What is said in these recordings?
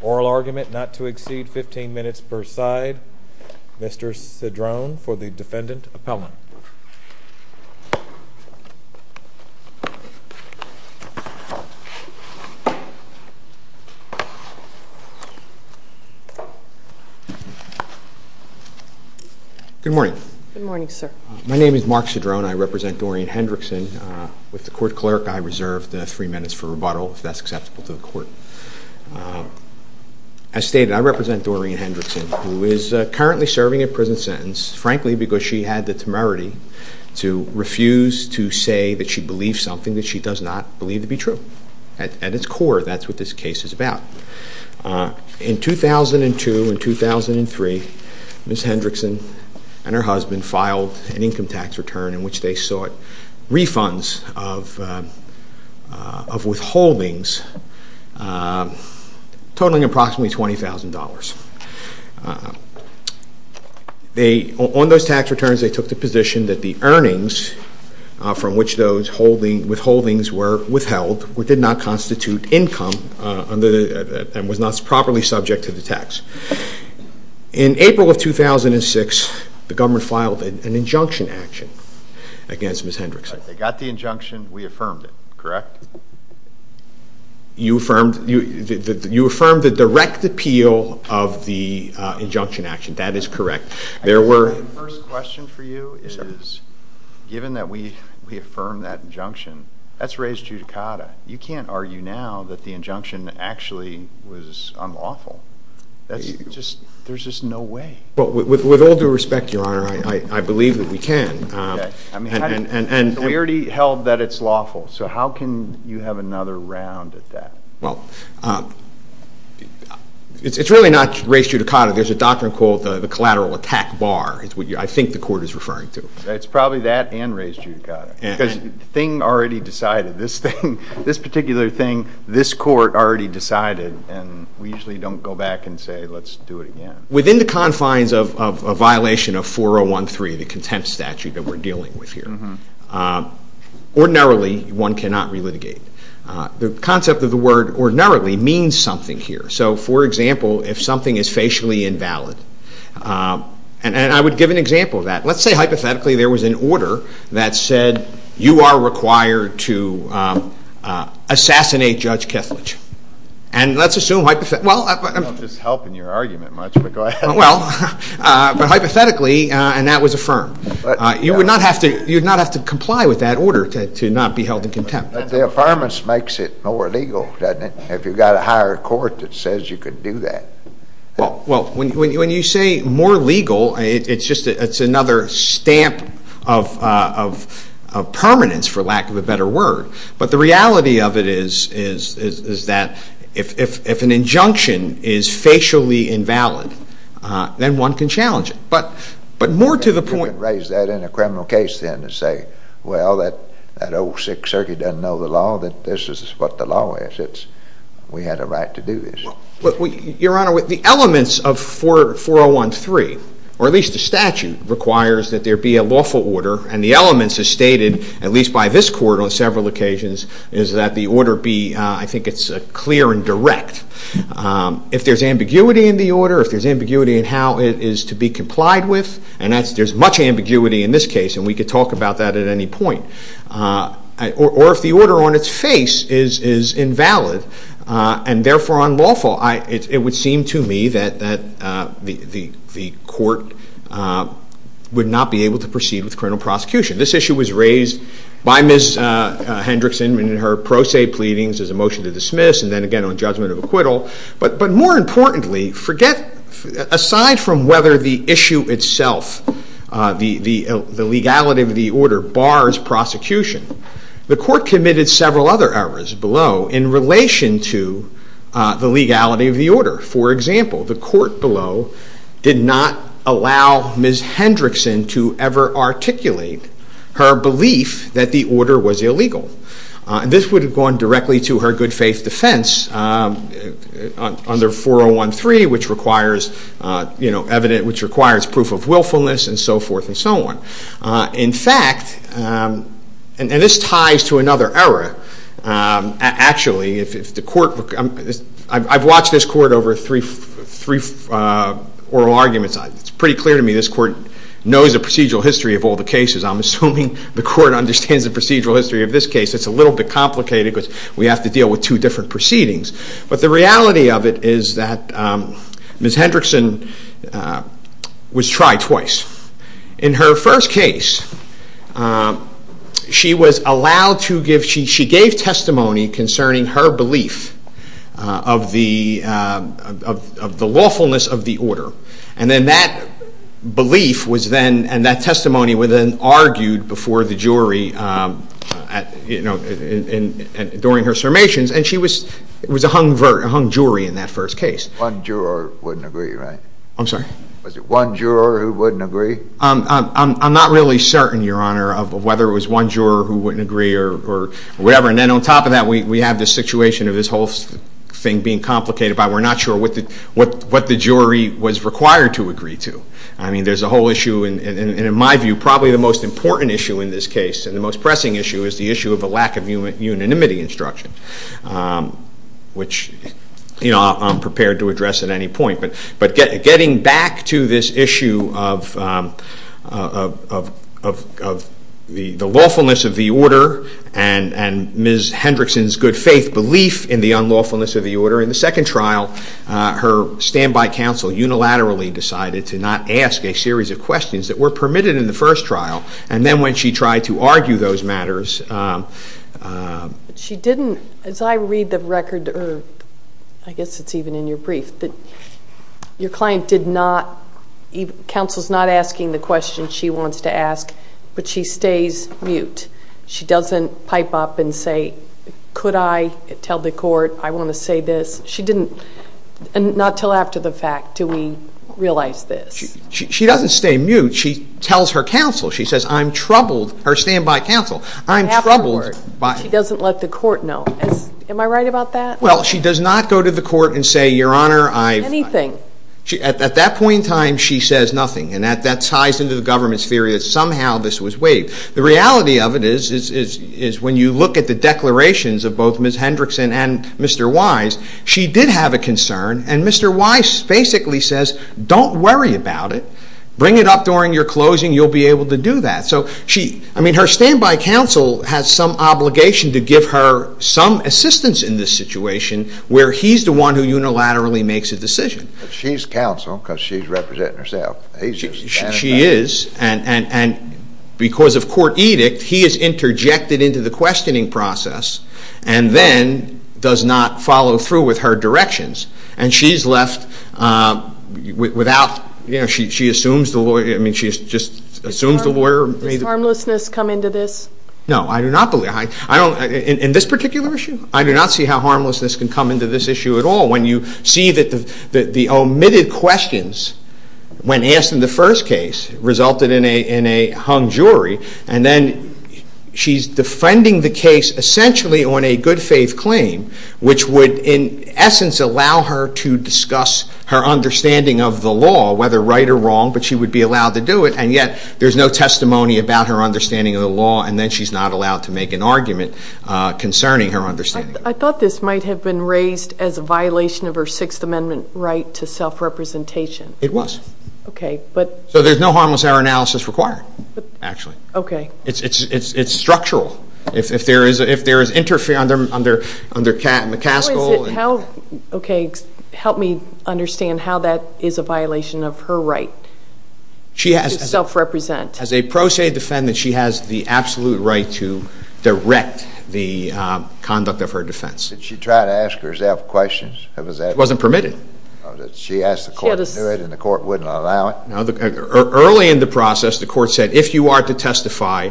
Oral argument not to exceed 15 minutes per side. Mr. Cedrone for the Defendant Appellant. Good morning. Good morning, sir. My name is Mark Cedrone. I represent Doreen Hendrickson. With the court clerk, I reserve the three minutes for rebuttal if that's acceptable to the court. As stated, I represent Doreen Hendrickson, who is currently serving a prison sentence, frankly, because she had the temerity to refuse to say that she believed something that she does not believe to be true. At its core, that's what this case is about. In 2002 and 2003, Ms. Hendrickson and her husband filed an income tax return in which they sought tax returns, they took the position that the earnings from which those withholdings were withheld did not constitute income and was not properly subject to the tax. In April of 2006, the government filed an injunction action against Ms. Hendrickson. They got the injunction. We affirmed it, correct? You affirmed the direct appeal of the injunction action. That is correct. My first question for you is, given that we affirmed that injunction, that's res judicata. You can't argue now that the injunction actually was unlawful. There's just no way. With all due respect, Your Honor, I believe that we can. We already held that it's lawful, so how can you have another round at that? It's really not res judicata. There's a doctrine called the collateral attack bar, is what I think the court is referring to. It's probably that and res judicata, because the thing already decided. This thing, this particular thing, this court already decided, and we usually don't go back and say, let's do it again. Within the confines of a violation of 4.013, the contempt statute that we're dealing with here, ordinarily, one cannot relitigate. The concept of the word ordinarily means something here. So, for example, if something is facially invalid, and I would give an example of that. Let's say, hypothetically, there was an order that said, you are required to assassinate Judge Kethledge. And let's assume, hypothetically, and that was affirmed. You would not have to comply with that order to not be held in contempt. But the affirmance makes it more legal, doesn't it? If you've got a higher court that says you can do that. Well, when you say more legal, it's just another stamp of permanence, for lack of a better word. But the reality of it is that if an injunction is facially invalid, then one can challenge it. But more to the point... Your Honor, the elements of 4013, or at least the statute, requires that there be a lawful order. And the elements are stated, at least by this court on several occasions, is that the order be, I think it's clear and direct. If there's ambiguity in the order, if there's ambiguity in how it is to be complied with, and there's much ambiguity in this case, and we could talk about that at any point. Or if the order on its face is invalid, and therefore unlawful, it would seem to me that the court would not be able to proceed with criminal prosecution. This issue was raised by Ms. Hendrickson in her pro se pleadings as a motion to dismiss, and then again on judgment of acquittal. But more importantly, forget, aside from whether the issue itself, the legality of the order, bars prosecution, the court committed several other errors below in relation to the legality of the order. For example, the court below did not allow Ms. Hendrickson to ever articulate her belief that the order was illegal. This would have gone directly to her good faith defense under 4013, which requires proof of willfulness and so forth and so on. In fact, and this ties to another error, actually, I've watched this court over three oral arguments. It's pretty clear to me this court knows the procedural history of all the cases. I'm assuming the court understands the procedural history of this case. It's a little bit complicated because we have to Ms. Hendrickson was tried twice. In her first case, she was allowed to give, she gave testimony concerning her belief of the lawfulness of the order. And then that belief was then, and that testimony was then argued before the jury during her sermations, and she was a hung jury in that first case. One juror wouldn't agree, right? I'm sorry? Was it one juror who wouldn't agree? I'm not really certain, Your Honor, of whether it was one juror who wouldn't agree or whatever. And then on top of that, we have this situation of this whole thing being complicated by we're not sure what the jury was required to agree to. I mean, there's a whole issue, and in my view, probably the most important issue in this case and the most pressing issue is the issue of the lack of unanimity instruction, which, you know, I'm prepared to address at any point. But getting back to this issue of the lawfulness of the order and Ms. Hendrickson's good faith belief in the unlawfulness of the order, in the second trial, her standby counsel unilaterally decided to not ask a series of questions that were permitted in the first trial. And then when she tried to argue those matters... She didn't, as I read the record, or I guess it's even in your brief, that your client did not, counsel's not asking the questions she wants to ask, but she stays mute. She doesn't pipe up and say, could I tell the court I want to say this? She didn't, and not until after the fact do we realize this. She doesn't stay mute. She tells her counsel, she says, I'm troubled, her standby counsel, I'm troubled... She doesn't let the court know. Am I right about that? Well, she does not go to the court and say, Your Honor, I... Anything. At that point in time, she says nothing, and that ties into the government's theory that somehow this was waived. The reality of it is when you look at the declarations of both Ms. Hendrickson and Mr. Wise, she did have a concern, and Mr. Wise basically says, don't worry about it, bring it up during your closing, you'll be able to do that. So, I mean, her standby counsel has some obligation to give her some assistance in this situation where he's the one who unilaterally makes a decision. She's counsel because she's representing herself. She is, and because of court edict, he is interjected into the questioning process and then does not follow through with her directions. And she's left without... You know, she assumes the lawyer... I mean, she just assumes the lawyer... Does harmlessness come into this? No, I do not believe... I don't... In this particular issue, I do not see how harmlessness can come into this issue at all. When you see that the omitted questions, when asked in the first case, resulted in a hung jury, and then she's defending the case essentially on a good faith claim, which would in essence allow her to discuss her understanding of the law, whether right or wrong, but she would be allowed to do it, and yet there's no testimony about her understanding of the law, and then she's not allowed to make an argument concerning her understanding. I thought this might have been raised as a violation of her Sixth Amendment right to self-representation. It was. Okay, but... So there's no harmless error analysis required, actually. Okay. It's structural. If there is interference under McCaskill... Okay, help me understand how that is a violation of her right to self-represent. As a pro se defendant, she has the absolute right to direct the conduct of her defense. Did she try to ask herself questions? It wasn't permitted. She asked the court to do it, and the court wouldn't allow it? No. Early in the process, the court said, if you are to testify,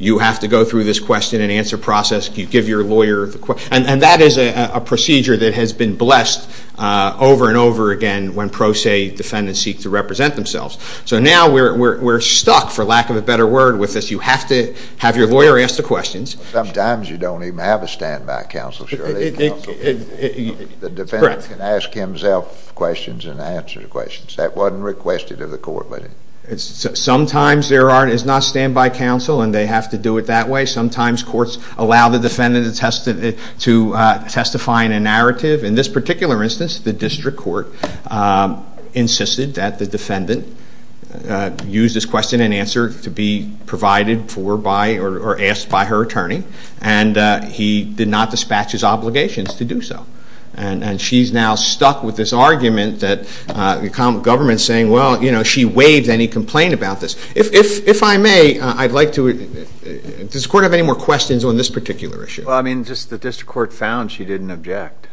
you have to go through this question and answer process. You give your lawyer the question. And that is a procedure that has been blessed over and over again when pro se defendants seek to represent themselves. So now we're stuck, for lack of a better word, with this. You have to have your lawyer ask the questions. Sometimes you don't even have a standby counsel, surely, counsel? Correct. A lawyer can ask himself questions and answer questions. That wasn't requested of the court. Sometimes there is not standby counsel, and they have to do it that way. Sometimes courts allow the defendant to testify in a narrative. In this particular instance, the district court insisted that the defendant use this question and answer to be provided for by or asked by her attorney. And he did not dispatch his obligations to do so. And she's now stuck with this argument that the government is saying, well, you know, she waived any complaint about this. If I may, I'd like to ask, does the court have any more questions on this particular issue? Well, I mean, just the district court found she didn't object.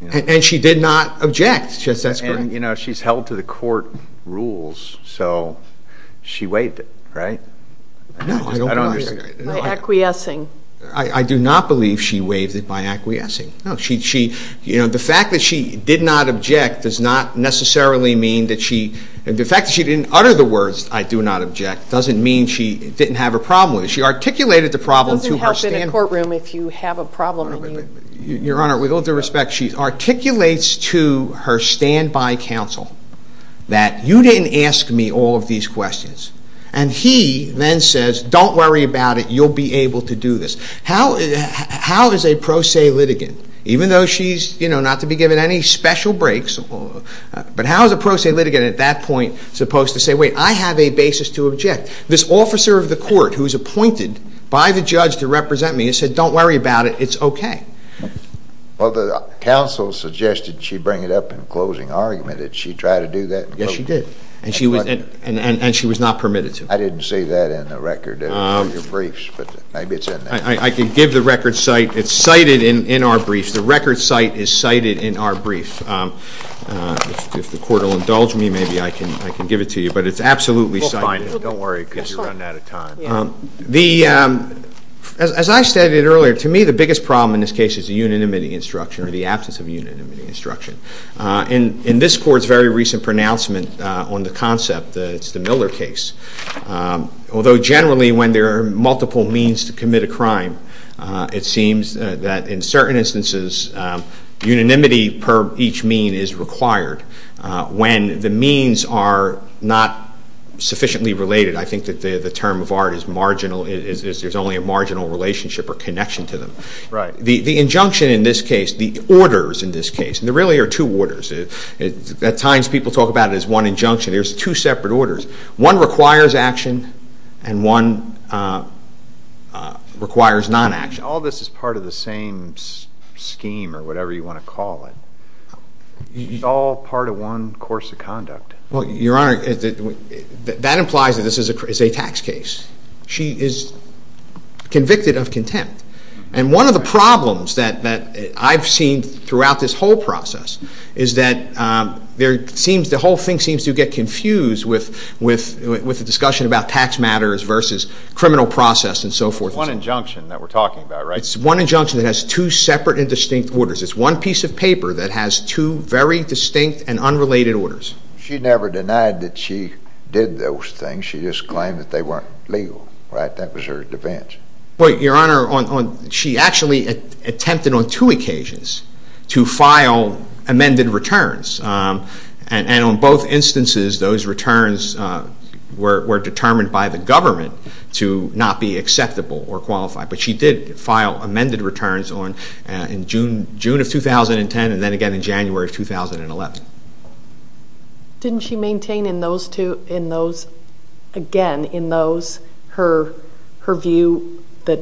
And she did not object. And, you know, she's held to the court rules, so she waived it, right? No, I don't believe it. By acquiescing. I do not believe she waived it by acquiescing. No, she, you know, the fact that she did not object does not necessarily mean that she, the fact that she didn't utter the words, I do not object, doesn't mean she didn't have a problem with it. She articulated the problem to her. It doesn't help in a courtroom if you have a problem. Your Honor, with all due respect, she articulates to her standby counsel that you didn't ask me all of these questions. And he then says, don't worry about it. You'll be able to do this. How is a pro se litigant, even though she's, you know, not to be given any special breaks, but how is a pro se litigant at that point supposed to say, wait, I have a basis to object? This officer of the court who is appointed by the judge to represent me has said, don't worry about it. It's okay. Well, the counsel suggested she bring it up in closing argument. Did she try to do that? Yes, she did. And she was not permitted to. I didn't see that in the record of your briefs, but maybe it's in there. I can give the record site. It's cited in our briefs. The record site is cited in our brief. If the court will indulge me, maybe I can give it to you. But it's absolutely cited. We'll find it. Don't worry, because you're running out of time. As I stated earlier, to me the biggest problem in this case is the unit admitting instruction or the absence of unit admitting instruction. In this court's very recent pronouncement on the concept, it's the Miller case, although generally when there are multiple means to commit a crime, it seems that in certain instances unanimity per each mean is required. When the means are not sufficiently related, I think that the term of art is marginal. There's only a marginal relationship or connection to them. Right. The injunction in this case, the orders in this case, there really are two orders. At times people talk about it as one injunction. There's two separate orders. One requires action and one requires non-action. All this is part of the same scheme or whatever you want to call it. It's all part of one course of conduct. Well, Your Honor, that implies that this is a tax case. She is convicted of contempt. And one of the problems that I've seen throughout this whole process is that the whole thing seems to get confused with the discussion about tax matters versus criminal process and so forth. It's one injunction that we're talking about, right? It's one injunction that has two separate and distinct orders. It's one piece of paper that has two very distinct and unrelated orders. She never denied that she did those things. She just claimed that they weren't legal, right? That was her defense. But, Your Honor, she actually attempted on two occasions to file amended returns. And on both instances, those returns were determined by the government to not be acceptable or qualified. But she did file amended returns in June of 2010 and then again in January of 2011. Didn't she maintain in those two, in those, again in those, her view that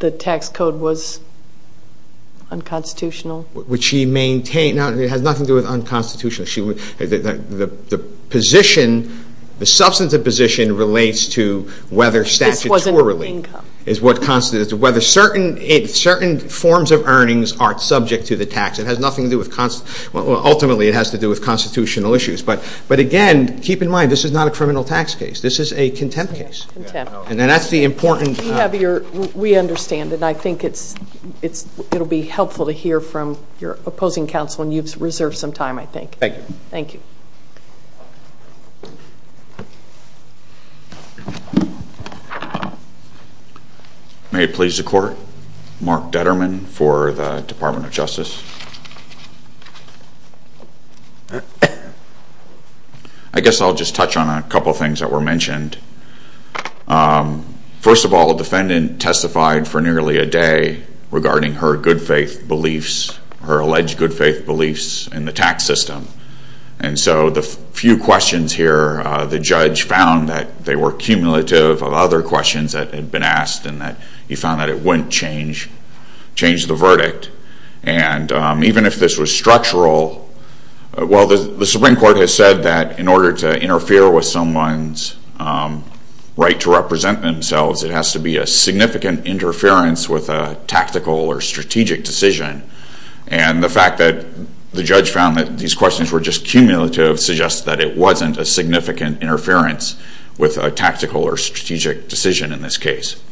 the tax code was unconstitutional? Would she maintain? No, it has nothing to do with unconstitutional. The position, the substantive position relates to whether statutorily. This wasn't her income. It's what constitutes whether certain forms of earnings are subject to the tax. It has nothing to do with, ultimately it has to do with constitutional issues. But, again, keep in mind this is not a criminal tax case. This is a contempt case. And that's the important. We understand. And I think it will be helpful to hear from your opposing counsel. And you've reserved some time, I think. Thank you. Thank you. May it please the Court. Mark Detterman for the Department of Justice. I guess I'll just touch on a couple of things that were mentioned. First of all, the defendant testified for nearly a day regarding her good faith beliefs, her alleged good faith beliefs in the tax system. And so the few questions here, the judge found that they were cumulative of other questions that had been asked and that he found that it wouldn't change the verdict. And even if this was structural, well, the Supreme Court has said that in order to interfere with someone's right to represent themselves, it has to be a significant interference with a tactical or strategic decision. And the fact that the judge found that these questions were just cumulative suggests that it wasn't a significant interference with a tactical or strategic decision in this case.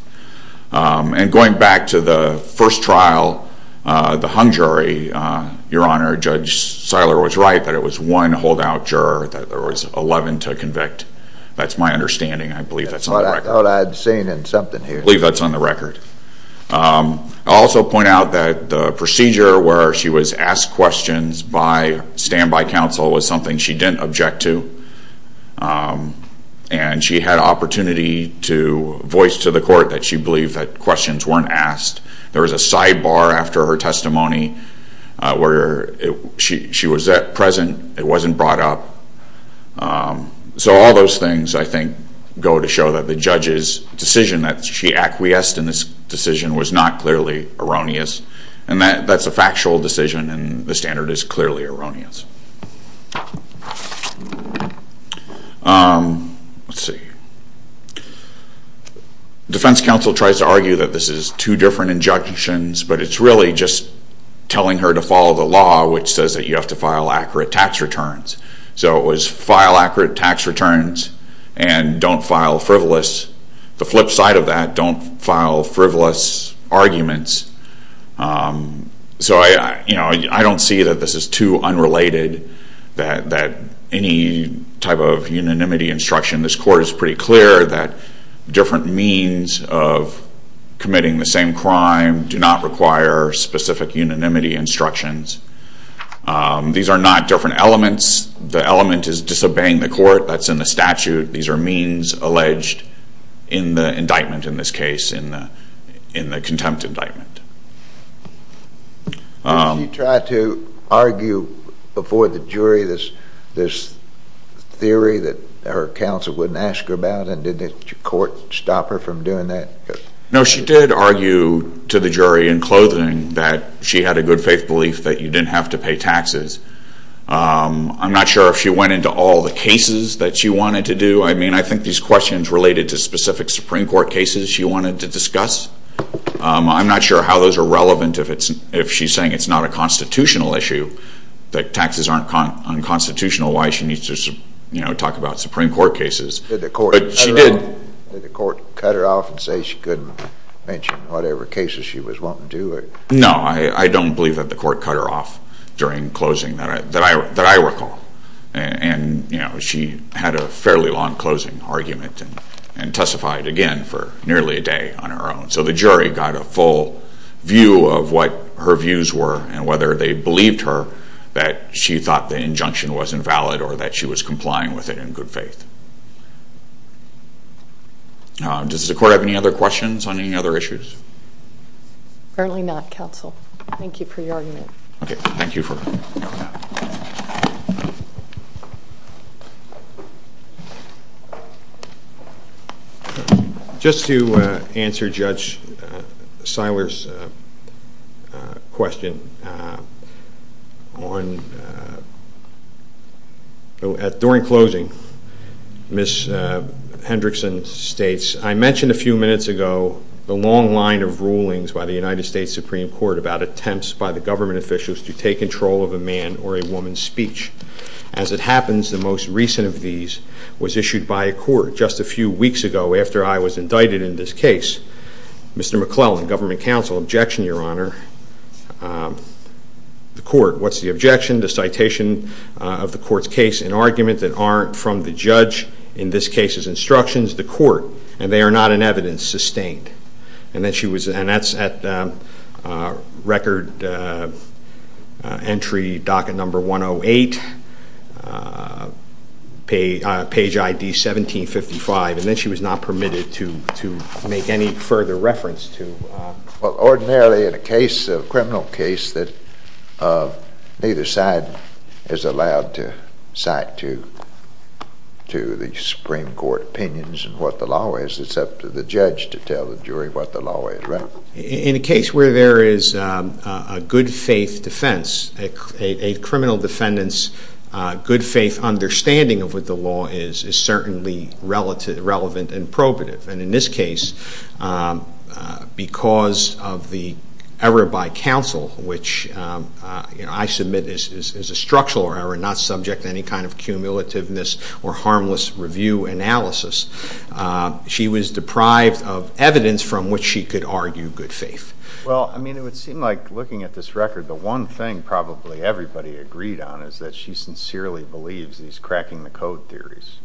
And going back to the first trial, the hung jury, Your Honor, Judge Seiler was right, that it was one holdout juror, that there was 11 to convict. That's my understanding. I believe that's on the record. I thought I'd seen something here. I believe that's on the record. I'll also point out that the procedure where she was asked questions by standby counsel was something she didn't object to. And she had an opportunity to voice to the court that she believed that questions weren't asked. There was a sidebar after her testimony where she was at present, it wasn't brought up. So all those things, I think, go to show that the judge's decision that she acquiesced in this decision was not clearly erroneous. And that's a factual decision, and the standard is clearly erroneous. Defense counsel tries to argue that this is two different injunctions, but it's really just telling her to follow the law, which says that you have to file accurate tax returns. So it was file accurate tax returns and don't file frivolous. The flip side of that, don't file frivolous arguments. So I don't see that this is too unrelated, that any type of unanimity instruction. This court is pretty clear that different means of committing the same crime do not require specific unanimity instructions. These are not different elements. The element is disobeying the court. That's in the statute. These are means alleged in the indictment in this case, in the contempt indictment. Did she try to argue before the jury this theory that her counsel wouldn't ask her about, and did the court stop her from doing that? No, she did argue to the jury in clothing that she had a good faith belief that you didn't have to pay taxes. I'm not sure if she went into all the cases that she wanted to do. I mean, I think these questions related to specific Supreme Court cases she wanted to discuss. I'm not sure how those are relevant if she's saying it's not a constitutional issue, that taxes aren't unconstitutional, why she needs to talk about Supreme Court cases. Did the court cut her off and say she couldn't mention whatever cases she was wanting to do? No, I don't believe that the court cut her off during closing that I recall. And she had a fairly long closing argument and testified again for nearly a day on her own. So the jury got a full view of what her views were and whether they believed her that she thought the injunction was invalid or that she was complying with it in good faith. Does the court have any other questions on any other issues? Apparently not, counsel. Thank you for your argument. Okay, thank you for coming out. Just to answer Judge Seiler's question, during closing, Ms. Hendrickson states, I mentioned a few minutes ago the long line of rulings by the United States Supreme Court about attempts by the government officials to take control of a man or a woman. As it happens, the most recent of these was issued by a court just a few weeks ago after I was indicted in this case. Mr. McClellan, Government Counsel, objection, Your Honor. The court, what's the objection? The citation of the court's case, an argument that aren't from the judge, in this case his instructions. The court, and they are not in evidence, sustained. And that's at record entry docket number 108, page ID 1755. And that she was not permitted to make any further reference to. Well, ordinarily in a case, a criminal case, that neither side is allowed to cite to the Supreme Court opinions and what the law is, except for the judge to tell the jury what the law is, right? In a case where there is a good faith defense, a criminal defendant's good faith understanding of what the law is, is certainly relevant and probative. And in this case, because of the error by counsel, which I submit is a structural error, not subject to any kind of cumulativeness or harmless review analysis, she was deprived of evidence from which she could argue good faith. Well, I mean, it would seem like, looking at this record, the one thing probably everybody agreed on is that she sincerely believes he's cracking the code theories.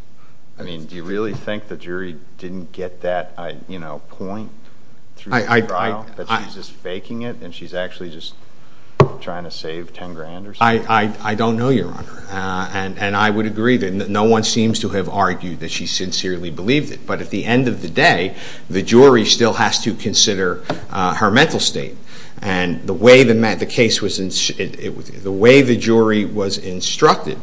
I mean, do you really think the jury didn't get that, you know, point through the trial? That she's just faking it and she's actually just trying to save ten grand or something? I don't know, Your Honor. And I would agree that no one seems to have argued that she sincerely believed it. But at the end of the day, the jury still has to consider her mental state. And the way the jury was instructed,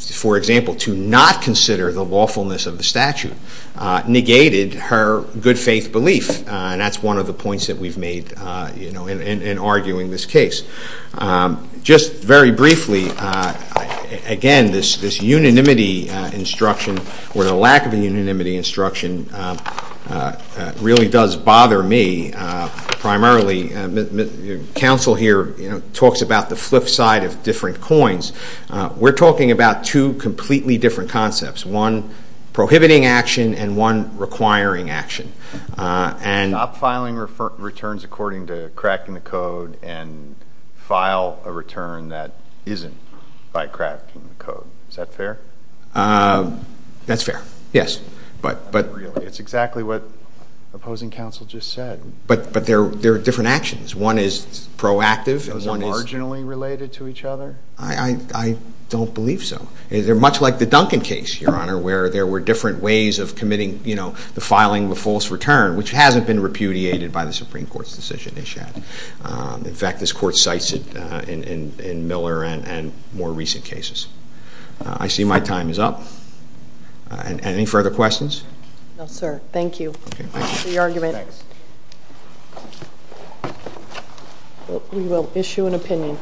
for example, to not consider the lawfulness of the statute, negated her good faith belief. And that's one of the points that we've made, you know, in arguing this case. Just very briefly, again, this unanimity instruction or the lack of a unanimity instruction really does bother me primarily. Counsel here, you know, talks about the flip side of different coins. We're talking about two completely different concepts, one prohibiting action and one requiring action. Stop filing returns according to cracking the code and file a return that isn't by cracking the code. Is that fair? That's fair, yes. But really, it's exactly what opposing counsel just said. But there are different actions. One is proactive. Those are marginally related to each other? I don't believe so. They're much like the Duncan case, Your Honor, where there were different ways of committing, you know, the filing of a false return, which hasn't been repudiated by the Supreme Court's decision. In fact, this Court cites it in Miller and more recent cases. I see my time is up. Any further questions? No, sir. Thank you for your argument. We will issue an opinion.